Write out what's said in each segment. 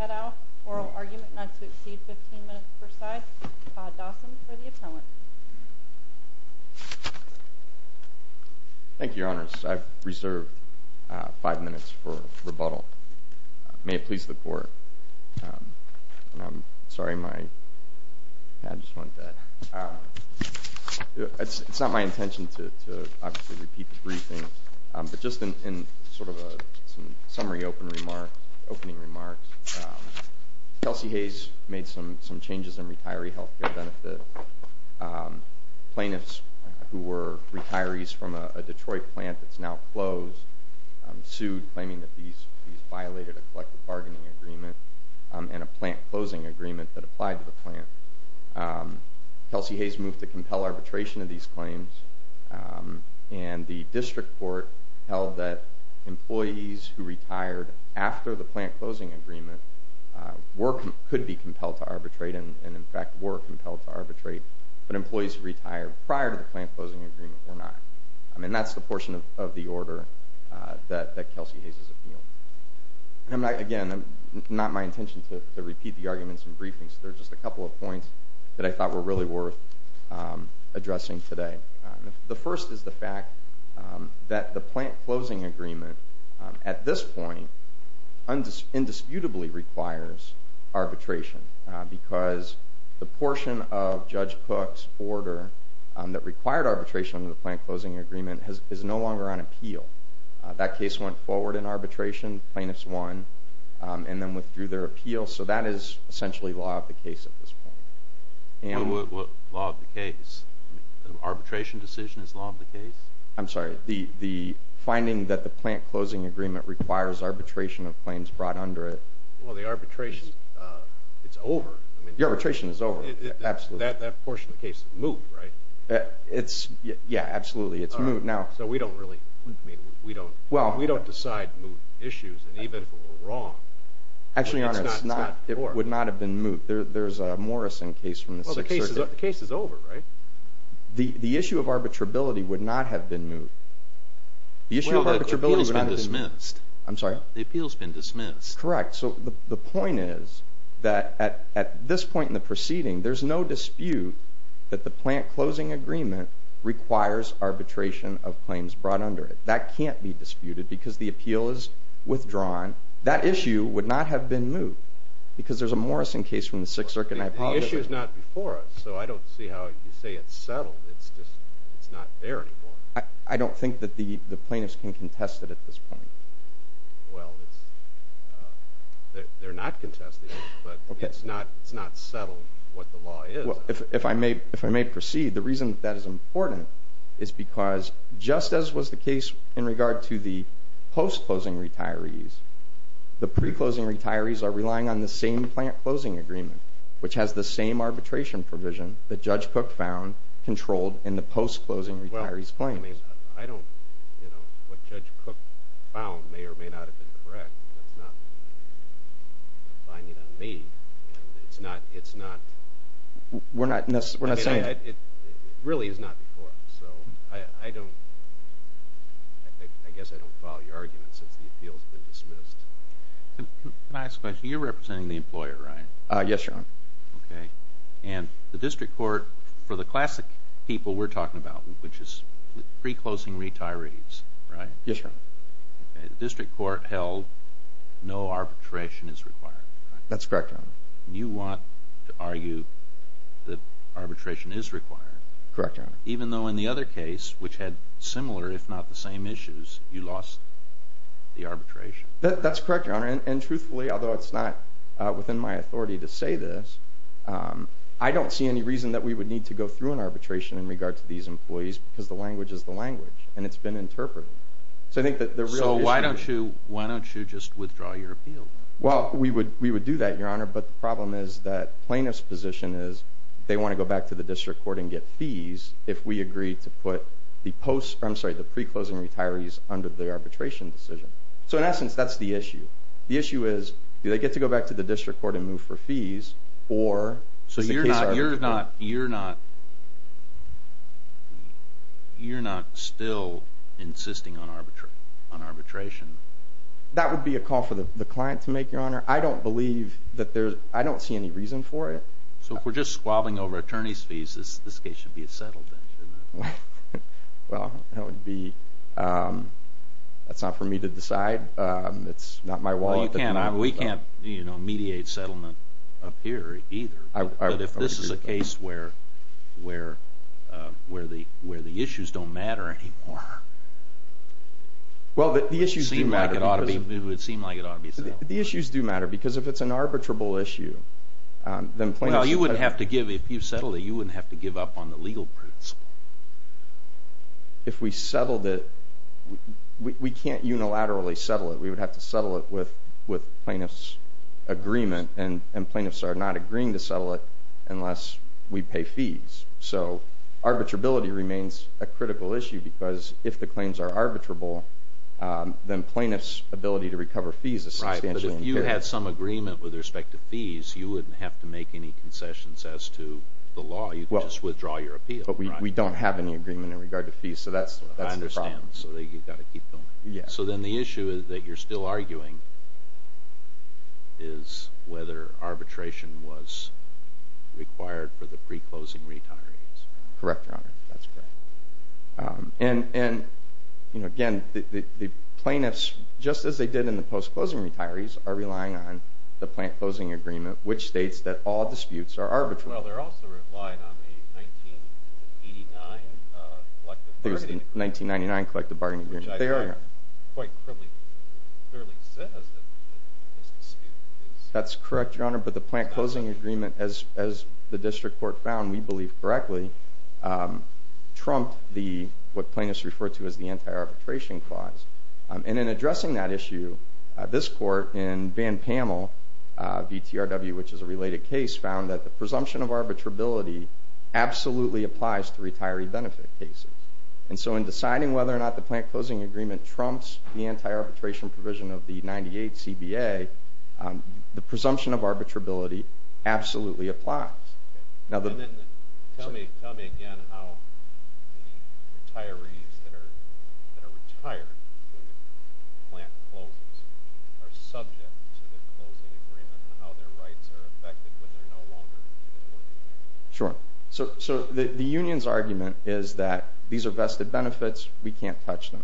et al. Oral argument not to exceed 15 minutes per side. Todd Dawson for the appellant. Thank you, Your Honors. I've reserved five minutes for rebuttal. May it please the Court. It's not my intention to repeat the briefing, but just in sort of a summary opening remarks, Kelsey Hayes made some changes in retiree health care benefits. Plaintiffs who were retirees from a Detroit plant that's now closed sued, claiming that these violated a collective bargaining agreement and a plant closing agreement that applied to the plant. Kelsey Hayes moved to compel arbitration of these claims, and the District Court held that employees who retired after the plant closing agreement could be compelled to arbitrate and in fact were compelled to arbitrate, but employees who retired prior to the plant closing agreement were not. That's the portion of the order that Kelsey Hayes appealed. Again, it's not my intention to repeat the arguments in briefings. There are just a couple of points that I thought were really worth addressing today. The first is the fact that the plant closing agreement at this point indisputably requires arbitration, because the portion of Judge Cook's order that required arbitration of the plant closing agreement is no longer on appeal. That case went forward in arbitration. Plaintiffs won and then withdrew their appeal, so that is essentially law of the case at this point. What law of the case? Arbitration decision is law of the case? I'm sorry. The finding that the plant closing agreement requires arbitration of claims brought under it. Well, the arbitration, it's over. The arbitration is over, absolutely. That portion of the case is moot, right? Yeah, absolutely. It's moot now. So we don't decide moot issues, and even if it were wrong, it's not moot. Actually, Your Honor, it would not have been moot. There's a Morrison case from the 6th Circuit. Well, the case is over, right? The issue of arbitrability would not have been moot. Well, the appeal's been dismissed. I'm sorry? The appeal's been dismissed. Correct. So the point is that at this point in the proceeding, there's no dispute that the plant closing agreement requires arbitration of claims brought under it. That can't be disputed because the appeal is withdrawn. That issue would not have been moot because there's a Morrison case from the 6th Circuit. The issue's not before us, so I don't see how you say it's settled. It's just not there anymore. I don't think that the plaintiffs can contest it at this point. Well, they're not contesting it, but it's not settled what the law is. If I may proceed, the reason that is important is because just as was the case in regard to the post-closing retirees, the pre-closing retirees are relying on the same plant closing agreement, which has the same arbitration provision that Judge Cook found controlled in the post-closing retirees' claims. What Judge Cook found may or may not have been correct. That's not a finding on me. It really is not before us, so I guess I don't follow your argument since the appeal's been dismissed. Can I ask a question? You're representing the employer, right? Yes, Your Honor. And the district court, for the classic people we're talking about, which is pre-closing retirees, right? Yes, Your Honor. The district court held no arbitration is required. That's correct, Your Honor. You want to argue that arbitration is required. Correct, Your Honor. Even though in the other case, which had similar if not the same issues, you lost the arbitration. That's correct, Your Honor. And truthfully, although it's not within my authority to say this, I don't see any reason that we would need to go through an arbitration in regard to these employees because the language is the language, and it's been interpreted. So why don't you just withdraw your appeal? Well, we would do that, Your Honor, but the problem is that plaintiff's position is they want to go back to the district court and get fees if we agree to put the pre-closing retirees under the arbitration decision. So, in essence, that's the issue. The issue is do they get to go back to the district court and move for fees or… So you're not still insisting on arbitration? That would be a call for the client to make, Your Honor. I don't believe that there's – I don't see any reason for it. So if we're just squabbling over attorney's fees, this case should be a settle then, shouldn't it? Well, that would be – that's not for me to decide. It's not my wallet. We can't, you know, mediate settlement up here either. But if this is a case where the issues don't matter anymore, it would seem like it ought to be settled. The issues do matter because if it's an arbitrable issue, then plaintiffs… If we settled it, we can't unilaterally settle it. We would have to settle it with plaintiffs' agreement, and plaintiffs are not agreeing to settle it unless we pay fees. So arbitrability remains a critical issue because if the claims are arbitrable, then plaintiffs' ability to recover fees is substantially impaired. Right, but if you had some agreement with respect to fees, you wouldn't have to make any concessions as to the law. You could just withdraw your appeal. Right. But we don't have any agreement in regard to fees, so that's the problem. I understand. So you've got to keep going. Yeah. So then the issue that you're still arguing is whether arbitration was required for the pre-closing retirees. Correct, Your Honor. That's correct. And, you know, again, the plaintiffs, just as they did in the post-closing retirees, are relying on the plant-closing agreement, which states that all disputes are arbitral. Well, they're also relying on the 1989 collective bargaining agreement. It was the 1999 collective bargaining agreement. Which I think quite clearly says that this dispute is not arbitral. That's correct, Your Honor, but the plant-closing agreement, as the district court found, we believe correctly, trumped what plaintiffs refer to as the anti-arbitration clause. And in addressing that issue, this court in Van Pamel v. TRW, which is a related case, found that the presumption of arbitrability absolutely applies to retiree benefit cases. And so in deciding whether or not the plant-closing agreement trumps the anti-arbitration provision of the 98 CBA, the presumption of arbitrability absolutely applies. Tell me again how the retirees that are retired when the plant closes are subject to the closing agreement and how their rights are affected when they're no longer employed. Sure. So the union's argument is that these are vested benefits, we can't touch them.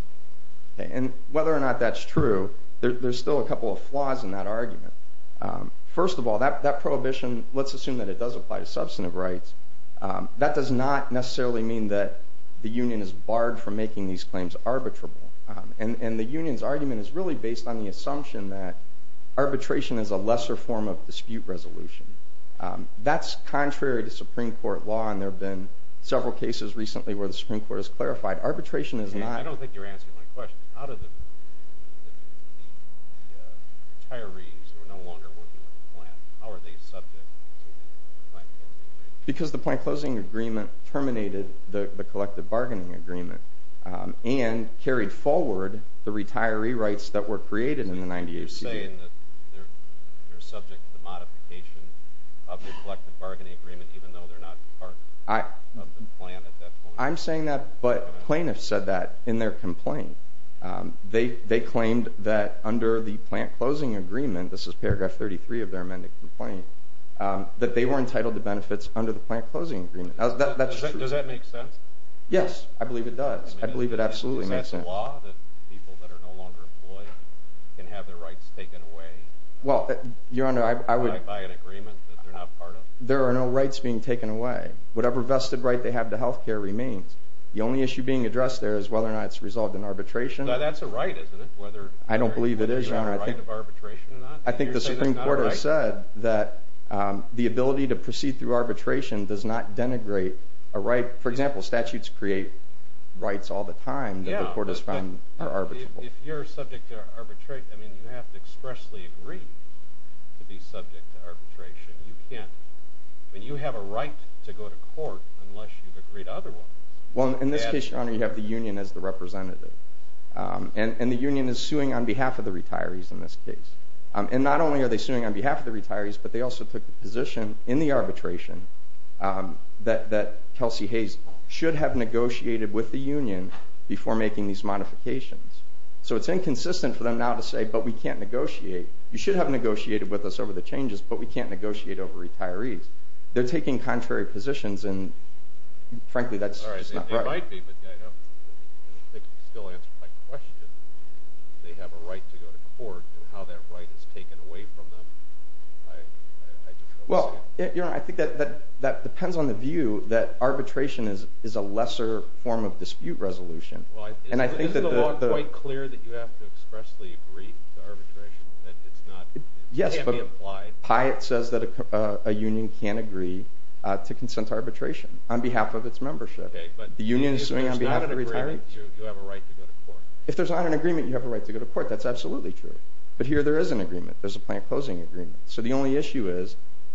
And whether or not that's true, there's still a couple of flaws in that argument. First of all, that prohibition, let's assume that it does apply to substantive rights, that does not necessarily mean that the union is barred from making these claims arbitrable. And the union's argument is really based on the assumption that arbitration is a lesser form of dispute resolution. That's contrary to Supreme Court law, and there have been several cases recently where the Supreme Court has clarified arbitration is not... How are the retirees who are no longer working at the plant, how are they subject to the plant-closing agreement? You're saying that they're subject to the modification of the collective bargaining agreement even though they're not part of the plant at that point? This is paragraph 33 of their amended complaint, that they were entitled to benefits under the plant-closing agreement. Does that make sense? Yes, I believe it does. I believe it absolutely makes sense. Does that law that people that are no longer employed can have their rights taken away by an agreement that they're not part of? There are no rights being taken away. Whatever vested right they have to health care remains. The only issue being addressed there is whether or not it's resolved in arbitration. That's a right, isn't it? I don't believe it is, Your Honor. I think the Supreme Court has said that the ability to proceed through arbitration does not denigrate a right. For example, statutes create rights all the time that the court has found are arbitrable. If you're subject to arbitration, you have to expressly agree to be subject to arbitration. You can't. You have a right to go to court unless you've agreed otherwise. In this case, Your Honor, you have the union as the representative. The union is suing on behalf of the retirees in this case. Not only are they suing on behalf of the retirees, but they also took the position in the arbitration that Kelsey Hayes should have negotiated with the union before making these modifications. It's inconsistent for them now to say, You should have negotiated with us over the changes, but we can't negotiate over retirees. They're taking contrary positions, and frankly, that's just not right. They might be, but I don't think they can still answer my question. They have a right to go to court, and how that right is taken away from them, I just don't understand. Well, Your Honor, I think that depends on the view that arbitration is a lesser form of dispute resolution. Isn't the law quite clear that you have to expressly agree to arbitration? Yes, but Piatt says that a union can't agree to consent to arbitration on behalf of its membership. Okay, but if there's not an agreement, you have a right to go to court. If there's not an agreement, you have a right to go to court. That's absolutely true. But here there is an agreement. There's a plant closing agreement. So the only issue is,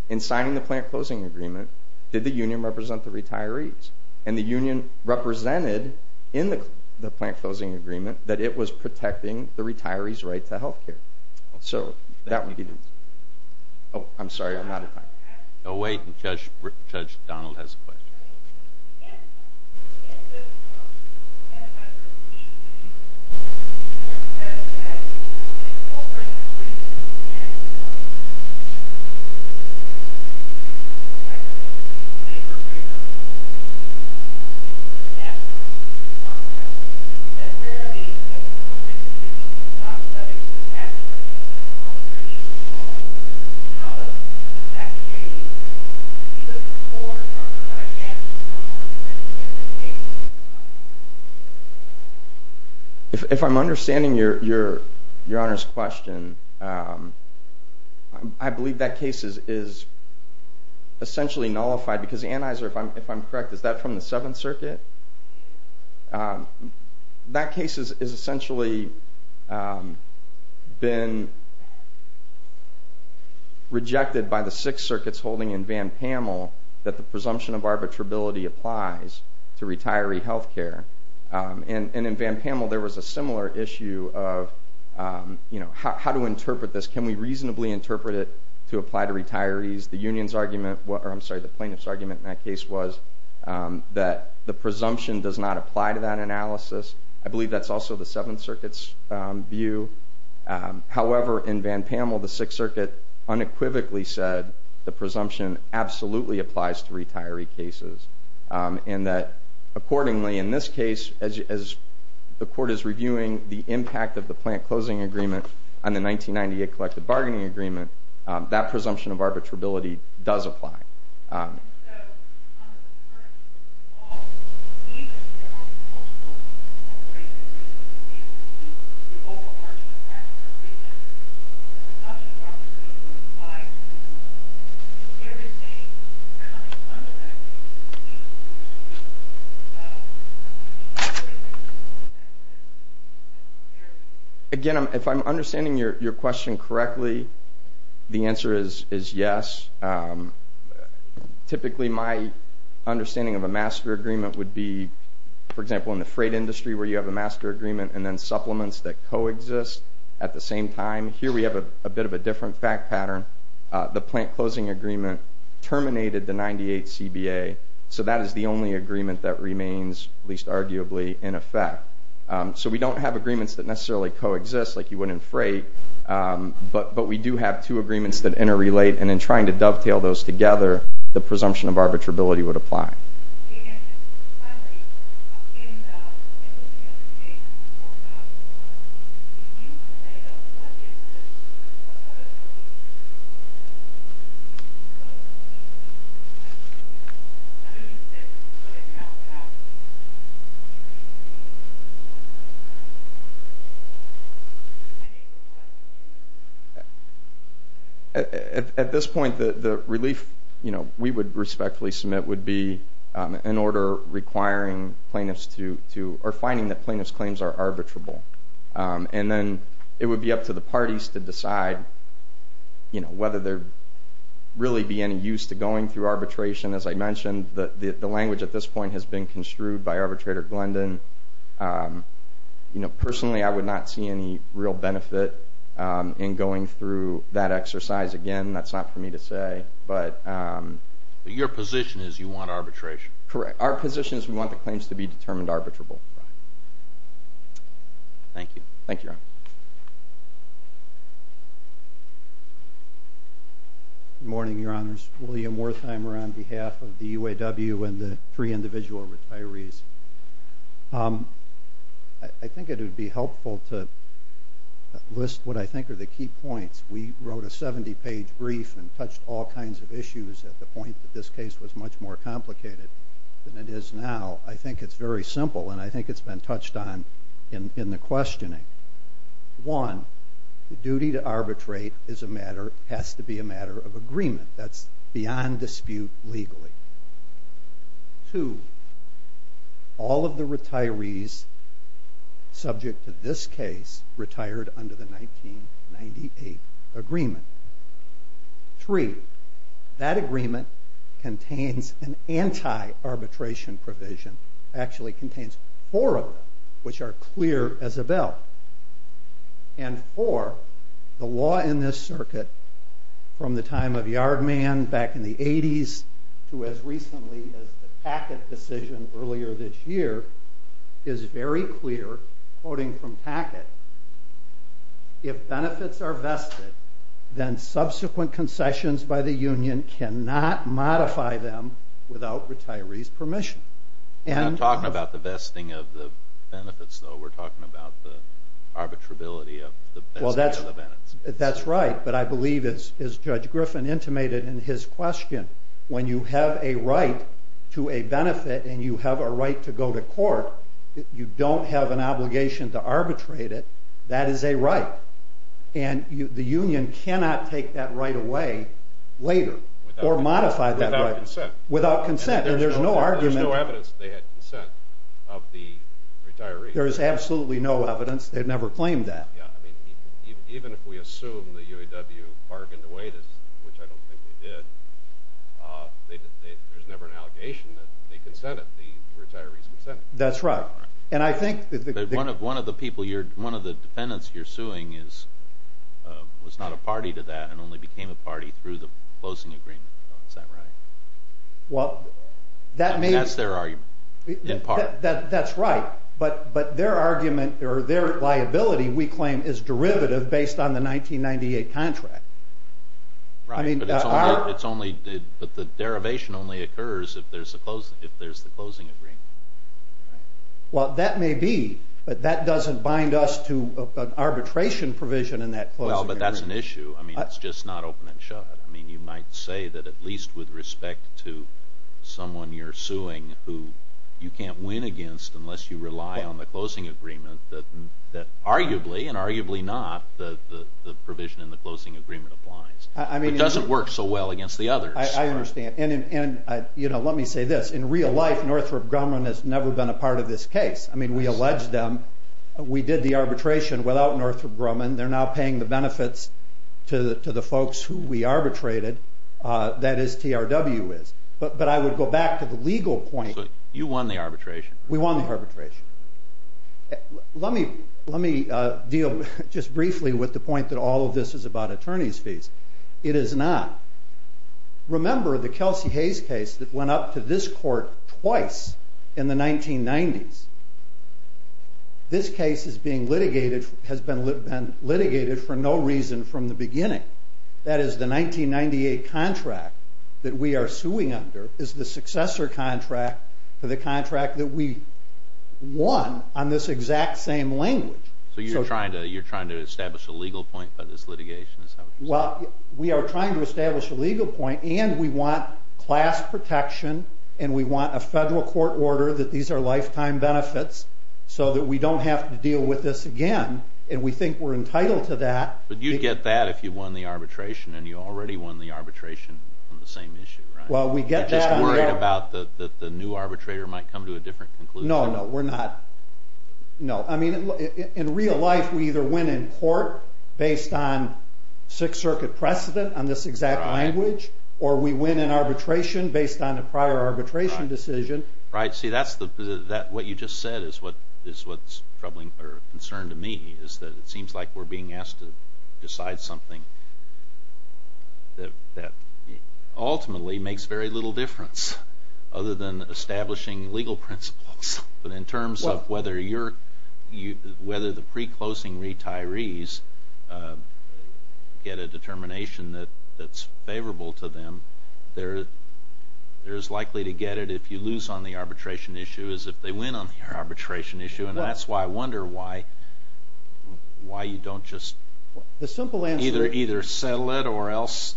in signing the plant closing agreement, did the union represent the retirees? And the union represented in the plant closing agreement that it was protecting the retirees' right to health care. So that would be the... Oh, I'm sorry, I'm out of time. Wait, Judge Donald has a question. If I'm understanding Your Honor's question, I believe that case is essentially nullified, because the Anheuser, if I'm correct, is that from the Seventh Circuit? That case has essentially been rejected by the Sixth Circuit's holding in Van Pamel that the presumption of arbitrability applies to retiree health care. And in Van Pamel there was a similar issue of how to interpret this. Can we reasonably interpret it to apply to retirees? The plaintiff's argument in that case was that the presumption does not apply to that analysis. I believe that's also the Seventh Circuit's view. However, in Van Pamel, the Sixth Circuit unequivocally said the presumption absolutely applies to retiree cases. And that accordingly, in this case, as the court is reviewing the impact of the plant closing agreement on the 1998 collective bargaining agreement, that presumption of arbitrability does apply. And so, under the current law, even if there aren't multiple corporations, it's due to the overarching impact of the plant closing agreement, the presumption of arbitrability would apply to retirees. Is there any kind of understanding of the presumption of arbitrability that would apply to retirees? Again, if I'm understanding your question correctly, the answer is yes. Typically, my understanding of a master agreement would be, for example, in the freight industry where you have a master agreement and then supplements that coexist at the same time. Here we have a bit of a different fact pattern. The plant closing agreement terminated the 1998 CBA, so that is the only agreement that remains, at least arguably, in effect. So we don't have agreements that necessarily coexist like you would in freight, but we do have two agreements that interrelate, and in trying to dovetail those together, the presumption of arbitrability would apply. At this point, the relief we would respectfully submit would be in order requiring plaintiffs to – or finding that plaintiffs' claims are arbitrable. And then it would be up to the parties to decide whether there really be any use to going through arbitration. As I mentioned, the language at this point has been construed by arbitrator Glendon. Personally, I would not see any real benefit in going through that exercise. Again, that's not for me to say. Your position is you want arbitration? Correct. Our position is we want the claims to be determined arbitrable. Good morning, Your Honors. William Wertheimer on behalf of the UAW and the three individual retirees. I think it would be helpful to list what I think are the key points. We wrote a 70-page brief and touched all kinds of issues at the point that this case was much more complicated than it is now. I think it's very simple, and I think it's been touched on in the questioning. One, the duty to arbitrate has to be a matter of agreement. That's beyond dispute legally. Two, all of the retirees subject to this case retired under the 1998 agreement. Three, that agreement contains an anti-arbitration provision. It actually contains four of them, which are clear as a bell. Four, the law in this circuit from the time of Yardman back in the 80s to as recently as the Packett decision earlier this year is very clear, quoting from Packett, if benefits are vested, then subsequent concessions by the union cannot modify them without retirees' permission. We're not talking about the vesting of the benefits, though. We're talking about the arbitrability of the vesting of the benefits. That's right, but I believe, as Judge Griffin intimated in his question, when you have a right to a benefit and you have a right to go to court, you don't have an obligation to arbitrate it. That is a right, and the union cannot take that right away later or modify that right. Without consent. Without consent, and there's no argument. There's no evidence they had consent of the retirees. There is absolutely no evidence. They've never claimed that. Even if we assume the UAW bargained away this, which I don't think they did, there's never an allegation that they consented, the retirees consented. That's right. One of the defendants you're suing was not a party to that and only became a party through the closing agreement. Is that right? That's their argument, in part. That's right, but their argument or their liability, we claim, is derivative based on the 1998 contract. Right, but the derivation only occurs if there's the closing agreement. Well, that may be, but that doesn't bind us to an arbitration provision in that closing agreement. Well, but that's an issue. It's just not open and shut. You might say that at least with respect to someone you're suing who you can't win against unless you rely on the closing agreement, that arguably and arguably not, the provision in the closing agreement applies. It doesn't work so well against the others. I understand, and let me say this. In real life, Northrop Grumman has never been a part of this case. I mean, we allege them. We did the arbitration without Northrop Grumman. They're now paying the benefits to the folks who we arbitrated. That is TRW is. But I would go back to the legal point. So you won the arbitration? We won the arbitration. Let me deal just briefly with the point that all of this is about attorney's fees. It is not. Remember the Kelsey Hayes case that went up to this court twice in the 1990s. This case has been litigated for no reason from the beginning. That is, the 1998 contract that we are suing under is the successor contract to the contract that we won on this exact same language. So you're trying to establish a legal point by this litigation? Well, we are trying to establish a legal point, and we want class protection, and we want a federal court order that these are lifetime benefits so that we don't have to deal with this again. And we think we're entitled to that. But you'd get that if you won the arbitration, and you already won the arbitration on the same issue, right? Well, we get that. You're just worried that the new arbitrator might come to a different conclusion? No, no, we're not. In real life, we either win in court based on Sixth Circuit precedent on this exact language, or we win in arbitration based on a prior arbitration decision. See, what you just said is what's troubling or a concern to me. It seems like we're being asked to decide something that ultimately makes very little difference, other than establishing legal principles. But in terms of whether the pre-closing retirees get a determination that's favorable to them, they're as likely to get it if you lose on the arbitration issue as if they win on the arbitration issue. And that's why I wonder why you don't just either settle it or else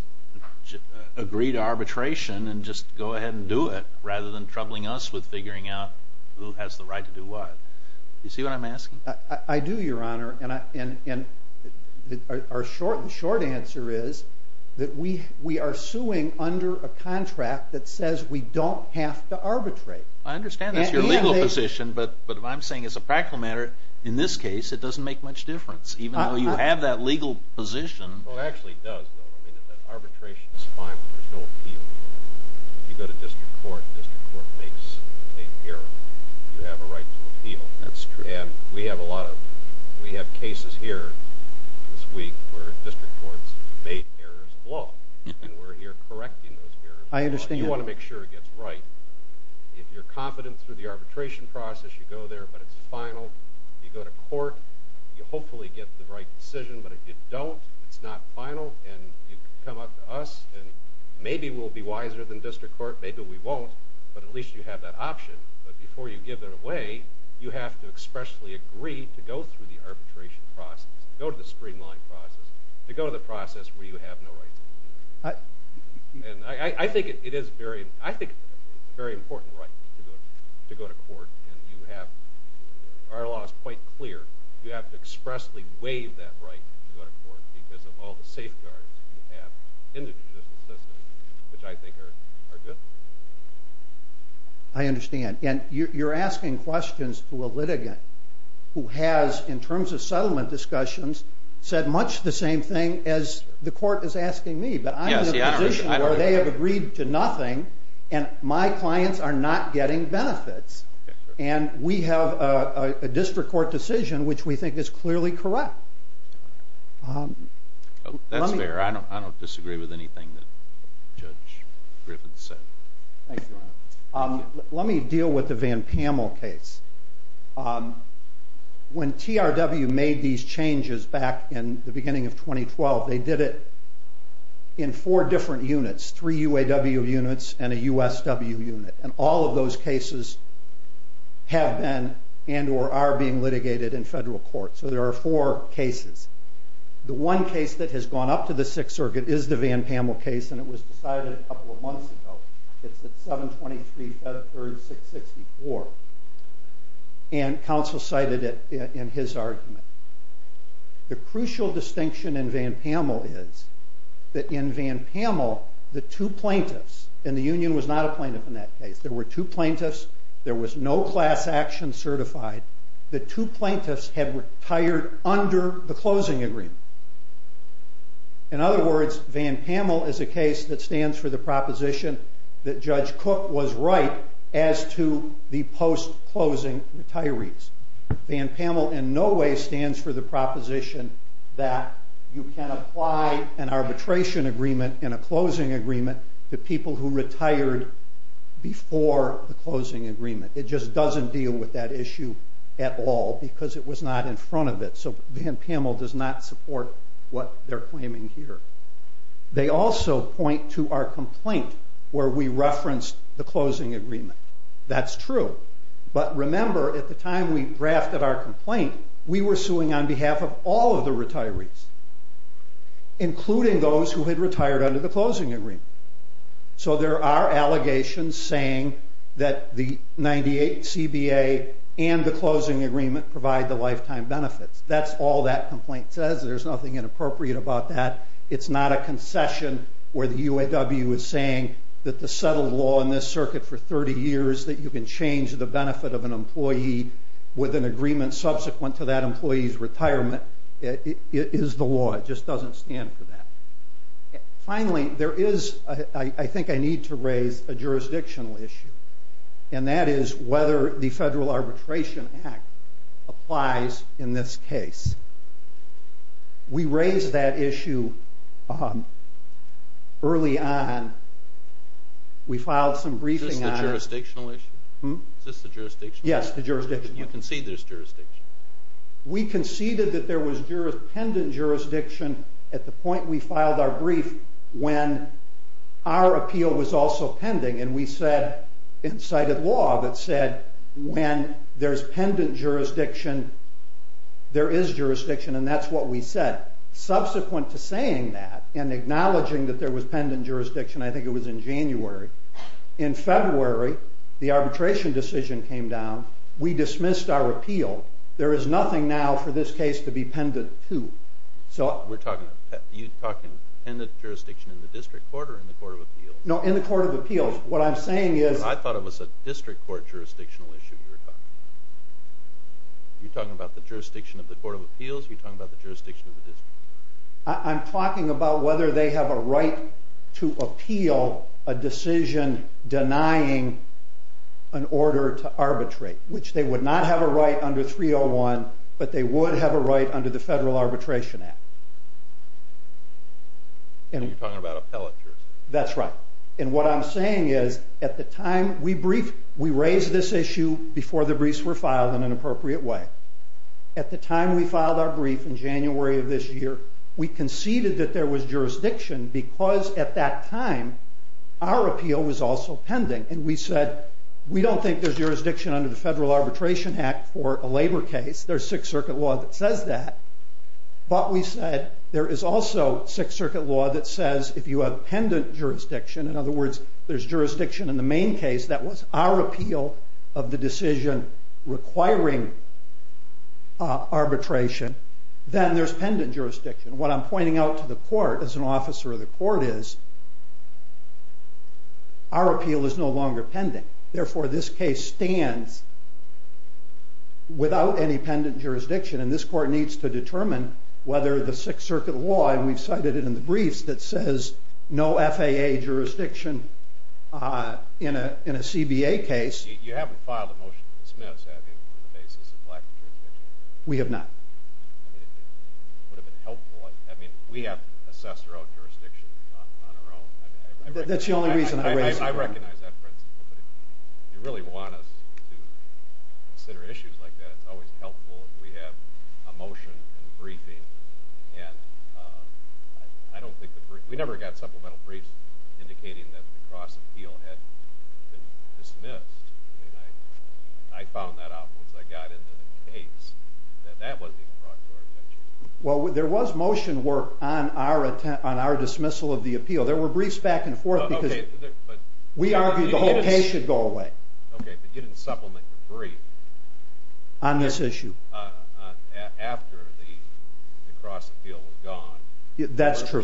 agree to arbitration and just go ahead and do it, rather than troubling us with figuring out who has the right to do what. Do you see what I'm asking? I do, Your Honor. And the short answer is that we are suing under a contract that says we don't have to arbitrate. I understand that's your legal position, but what I'm saying as a practical matter, in this case, it doesn't make much difference, even though you have that legal position. Well, it actually does, though. I mean, if that arbitration is final, there's no appeal. If you go to district court and district court makes a mistake, you have a right to appeal. And we have cases here this week where district courts made errors of law, and we're here correcting those errors of law. You want to make sure it gets right. If you're confident through the arbitration process, you go there, but it's final. You go to court, you hopefully get the right decision. But if you don't, it's not final, and you come up to us, and maybe we'll be wiser than district court, maybe we won't, but at least you have that option. But before you give it away, you have to expressly agree to go through the arbitration process, go to the streamline process, to go to the process where you have no rights. And I think it is a very important right to go to court, and you have our laws quite clear. You have to expressly waive that right to go to court because of all the safeguards you have in the judicial system, which I think are good. I understand. And you're asking questions to a litigant who has, in terms of settlement discussions, said much the same thing as the court is asking me. But I'm in a position where they have agreed to nothing, and my clients are not getting benefits. And we have a district court decision which we think is clearly correct. That's fair. I don't disagree with anything that Judge Griffith said. Thank you, Your Honor. Let me deal with the Van Pamel case. When TRW made these changes back in the beginning of 2012, they did it in four different units, three UAW units and a USW unit. And all of those cases have been and are being litigated in federal court. So there are four cases. The one case that has gone up to the Sixth Circuit is the Van Pamel case, and it was decided a couple of months ago. It's at 723 Feb. 3, 664. And counsel cited it in his argument. The crucial distinction in Van Pamel is that in Van Pamel, the two plaintiffs, and the union was not a plaintiff in that case, there were two plaintiffs, there was no class action certified, the two plaintiffs had retired under the closing agreement. In other words, Van Pamel is a case that stands for the proposition that Judge Cook was right as to the post-closing retirees. Van Pamel in no way stands for the proposition that you can apply an arbitration agreement and a closing agreement to people who retired before the closing agreement. It just doesn't deal with that issue at all because it was not in front of it. So Van Pamel does not support what they're claiming here. They also point to our complaint where we referenced the closing agreement. That's true. But remember, at the time we drafted our complaint, we were suing on behalf of all of the retirees, including those who had retired under the closing agreement. So there are allegations saying that the 98CBA and the closing agreement provide the lifetime benefits. That's all that complaint says. There's nothing inappropriate about that. It's not a concession where the UAW is saying that the settled law in this circuit for 30 years that you can change the benefit of an employee with an agreement subsequent to that employee's retirement is the law. It just doesn't stand for that. Finally, I think I need to raise a jurisdictional issue, and that is whether the Federal Arbitration Act applies in this case. We raised that issue early on. We filed some briefing on it. Is this the jurisdictional issue? Yes, the jurisdictional issue. You concede there's jurisdiction? We conceded that there was pendent jurisdiction at the point we filed our brief when our appeal was also pending. And we cited law that said when there's pendent jurisdiction, there is jurisdiction. And that's what we said. Subsequent to saying that and acknowledging that there was pendent jurisdiction, I think it was in January, in February the arbitration decision came down. We dismissed our appeal. There is nothing now for this case to be pendent to. You're talking pendent jurisdiction in the District Court or in the Court of Appeals? No, in the Court of Appeals. What I'm saying is... I thought it was a District Court jurisdictional issue you were talking about. You're talking about the jurisdiction of the Court of Appeals? You're talking about the jurisdiction of the District Court? I'm talking about whether they have a right to appeal a decision denying an order to arbitrate, which they would not have a right under 301, but they would have a right under the Federal Arbitration Act. You're talking about appellate jurisdiction? That's right. And what I'm saying is at the time we briefed, we raised this issue before the briefs were filed in an appropriate way. At the time we filed our brief in January of this year, we conceded that there was jurisdiction because at that time our appeal was also pending. And we said we don't think there's jurisdiction under the Federal Arbitration Act for a labor case. There's Sixth Circuit law that says that. But we said there is also Sixth Circuit law that says if you have pendent jurisdiction, in other words there's jurisdiction in the main case that was our appeal of the decision requiring arbitration, then there's pendent jurisdiction. What I'm pointing out to the Court as an officer of the Court is our appeal is no longer pending. Therefore, this case stands without any pendent jurisdiction, and this Court needs to determine whether the Sixth Circuit law, and we've cited it in the briefs, that says no FAA jurisdiction in a CBA case. You haven't filed a motion to dismiss, have you, on the basis of lack of jurisdiction? We have not. It would have been helpful. We have to assess our own jurisdiction on our own. That's the only reason I raised it. I recognize that principle. But if you really want us to consider issues like that, it's always helpful if we have a motion and a briefing. We never got supplemental briefs indicating that the cross-appeal had been dismissed. I found that out once I got into the case, that that wasn't even brought to our attention. Well, there was motion work on our dismissal of the appeal. There were briefs back and forth. We argued the whole case should go away. Okay, but you didn't supplement the brief. On this issue. After the cross-appeal was gone. That's true.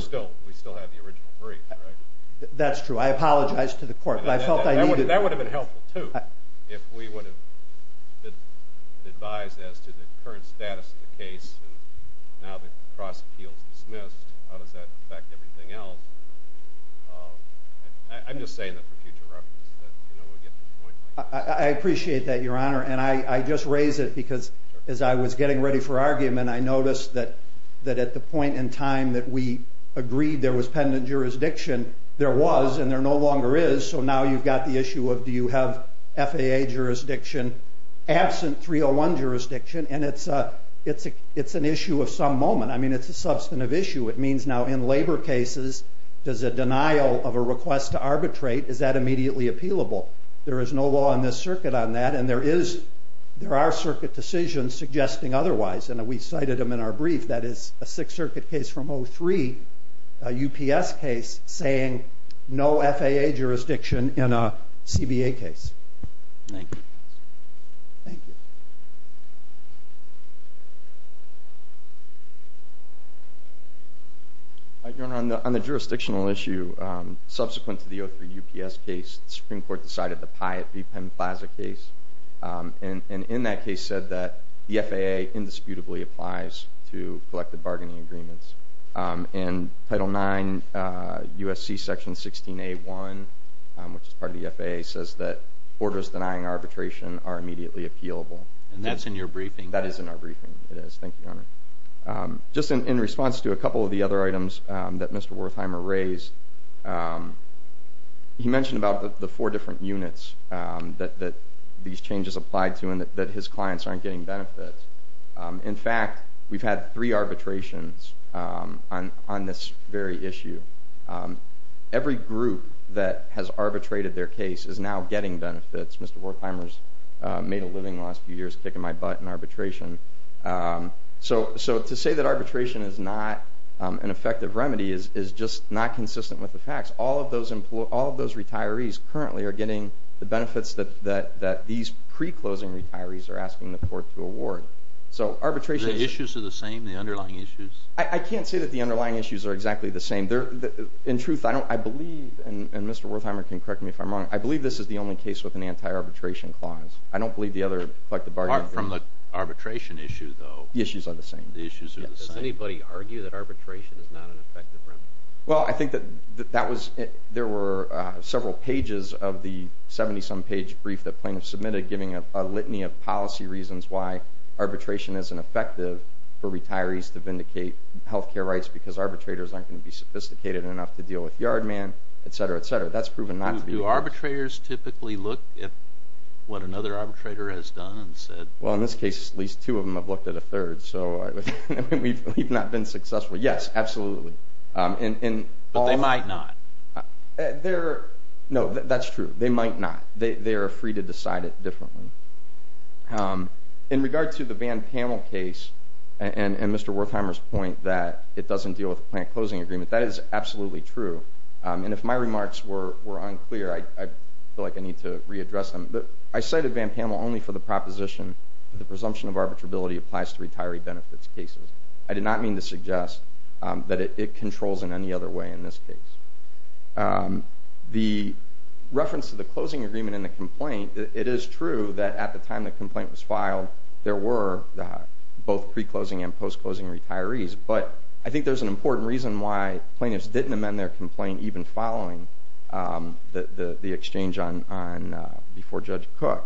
We still have the original brief, right? That's true. I apologize to the Court. That would have been helpful, too, if we would have been advised as to the current status of the case. Now the cross-appeal is dismissed. How does that affect everything else? I'm just saying that for future reference. I appreciate that, Your Honor. And I just raise it because as I was getting ready for argument, I noticed that at the point in time that we agreed there was pendant jurisdiction, there was, and there no longer is. So now you've got the issue of do you have FAA jurisdiction absent 301 jurisdiction? And it's an issue of some moment. I mean, it's a substantive issue. It means now in labor cases, does a denial of a request to arbitrate, is that immediately appealable? There is no law in this circuit on that, and there are circuit decisions suggesting otherwise. And we cited them in our brief. That is a Sixth Circuit case from 2003, a UPS case, saying no FAA jurisdiction in a CBA case. Thank you. Thank you. Your Honor, on the jurisdictional issue, subsequent to the 2003 UPS case, the Supreme Court decided the Pyatt v. Penn Plaza case, and in that case said that the FAA indisputably applies to collective bargaining agreements. In Title IX, USC Section 16A1, which is part of the FAA, says that orders denying arbitration are immediately appealable. And that's in your briefing? That is in our briefing. It is. Thank you, Your Honor. Just in response to a couple of the other items that Mr. Wertheimer raised, he mentioned about the four different units that these changes apply to and that his clients aren't getting benefits. In fact, we've had three arbitrations on this very issue. Every group that has arbitrated their case is now getting benefits. Mr. Wertheimer's made a living the last few years kicking my butt in arbitration. So to say that arbitration is not an effective remedy is just not consistent with the facts. All of those retirees currently are getting the benefits that these pre-closing retirees are asking the court to award. The issues are the same, the underlying issues? I can't say that the underlying issues are exactly the same. In truth, I believe, and Mr. Wertheimer can correct me if I'm wrong, I believe this is the only case with an anti-arbitration clause. Apart from the arbitration issue, though? The issues are the same. The issues are the same. Does anybody argue that arbitration is not an effective remedy? Well, I think that there were several pages of the 70-some page brief that plaintiffs submitted giving a litany of policy reasons why arbitration isn't effective for retirees to vindicate health care rights because arbitrators aren't going to be sophisticated enough to deal with yard man, etc., etc. But that's proven not to be the case. Do arbitrators typically look at what another arbitrator has done and said? Well, in this case, at least two of them have looked at a third. So we've not been successful. Yes, absolutely. But they might not. No, that's true. They might not. They are free to decide it differently. In regard to the Van Pamel case and Mr. Wertheimer's point that it doesn't deal with the plant closing agreement, that is absolutely true. And if my remarks were unclear, I feel like I need to readdress them. I cited Van Pamel only for the proposition that the presumption of arbitrability applies to retiree benefits cases. I did not mean to suggest that it controls in any other way in this case. The reference to the closing agreement in the complaint, it is true that at the time the complaint was filed, there were both pre-closing and post-closing retirees. But I think there's an important reason why plaintiffs didn't amend their complaint even following the exchange before Judge Cook.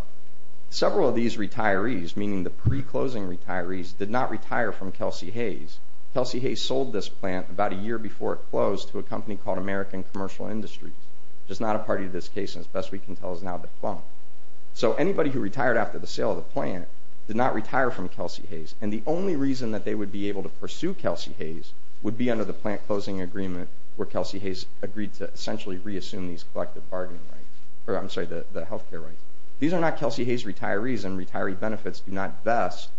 Several of these retirees, meaning the pre-closing retirees, did not retire from Kelsey Hayes. Kelsey Hayes sold this plant about a year before it closed to a company called American Commercial Industries, which is not a party to this case and, as best we can tell, is now defunct. So anybody who retired after the sale of the plant did not retire from Kelsey Hayes. And the only reason that they would be able to pursue Kelsey Hayes would be under the plant closing agreement where Kelsey Hayes agreed to essentially reassume these collective bargaining rights, or I'm sorry, the health care rights. These are not Kelsey Hayes retirees, and retiree benefits do not vest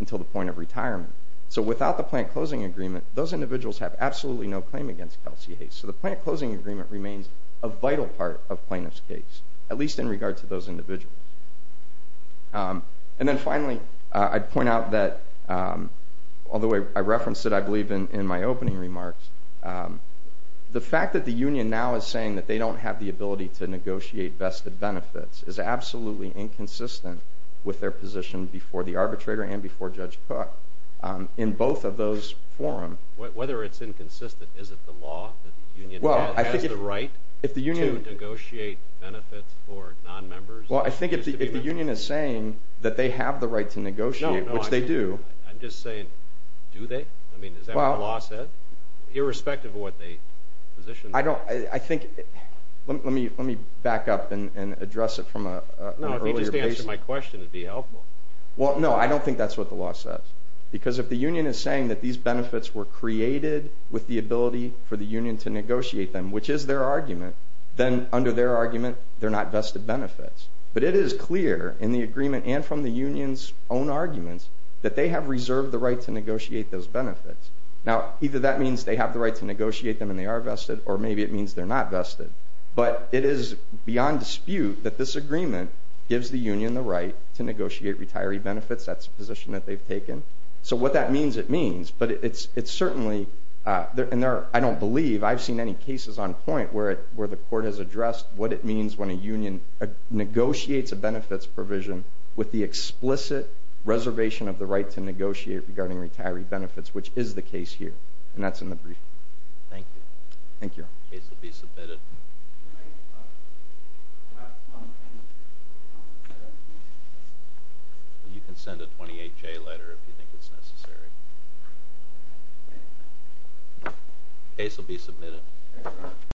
until the point of retirement. So without the plant closing agreement, those individuals have absolutely no claim against Kelsey Hayes. So the plant closing agreement remains a vital part of plaintiffs' case, at least in regard to those individuals. And then finally, I'd point out that, although I referenced it, I believe, in my opening remarks, the fact that the union now is saying that they don't have the ability to negotiate vested benefits is absolutely inconsistent with their position before the arbitrator and before Judge Cook in both of those forums. Whether it's inconsistent, is it the law that the union has the right to negotiate benefits for nonmembers? Well, I think if the union is saying that they have the right to negotiate, which they do. No, no, I'm just saying, do they? I mean, is that what the law says? Irrespective of what the position is? I don't, I think, let me back up and address it from an earlier place. No, if you just answered my question, it would be helpful. Well, no, I don't think that's what the law says. Because if the union is saying that these benefits were created with the ability for the union to negotiate them, which is their argument, then under their argument, they're not vested benefits. But it is clear in the agreement and from the union's own arguments that they have reserved the right to negotiate those benefits. Now, either that means they have the right to negotiate them and they are vested, or maybe it means they're not vested. But it is beyond dispute that this agreement gives the union the right to negotiate retiree benefits. That's a position that they've taken. So what that means, it means. But it's certainly, and I don't believe, I've seen any cases on point where the court has addressed what it means when a union negotiates a benefits provision with the explicit reservation of the right to negotiate regarding retiree benefits, which is the case here. And that's in the brief. Thank you. Thank you. The case will be submitted. You can send a 28-J letter if you think it's necessary. The case will be submitted.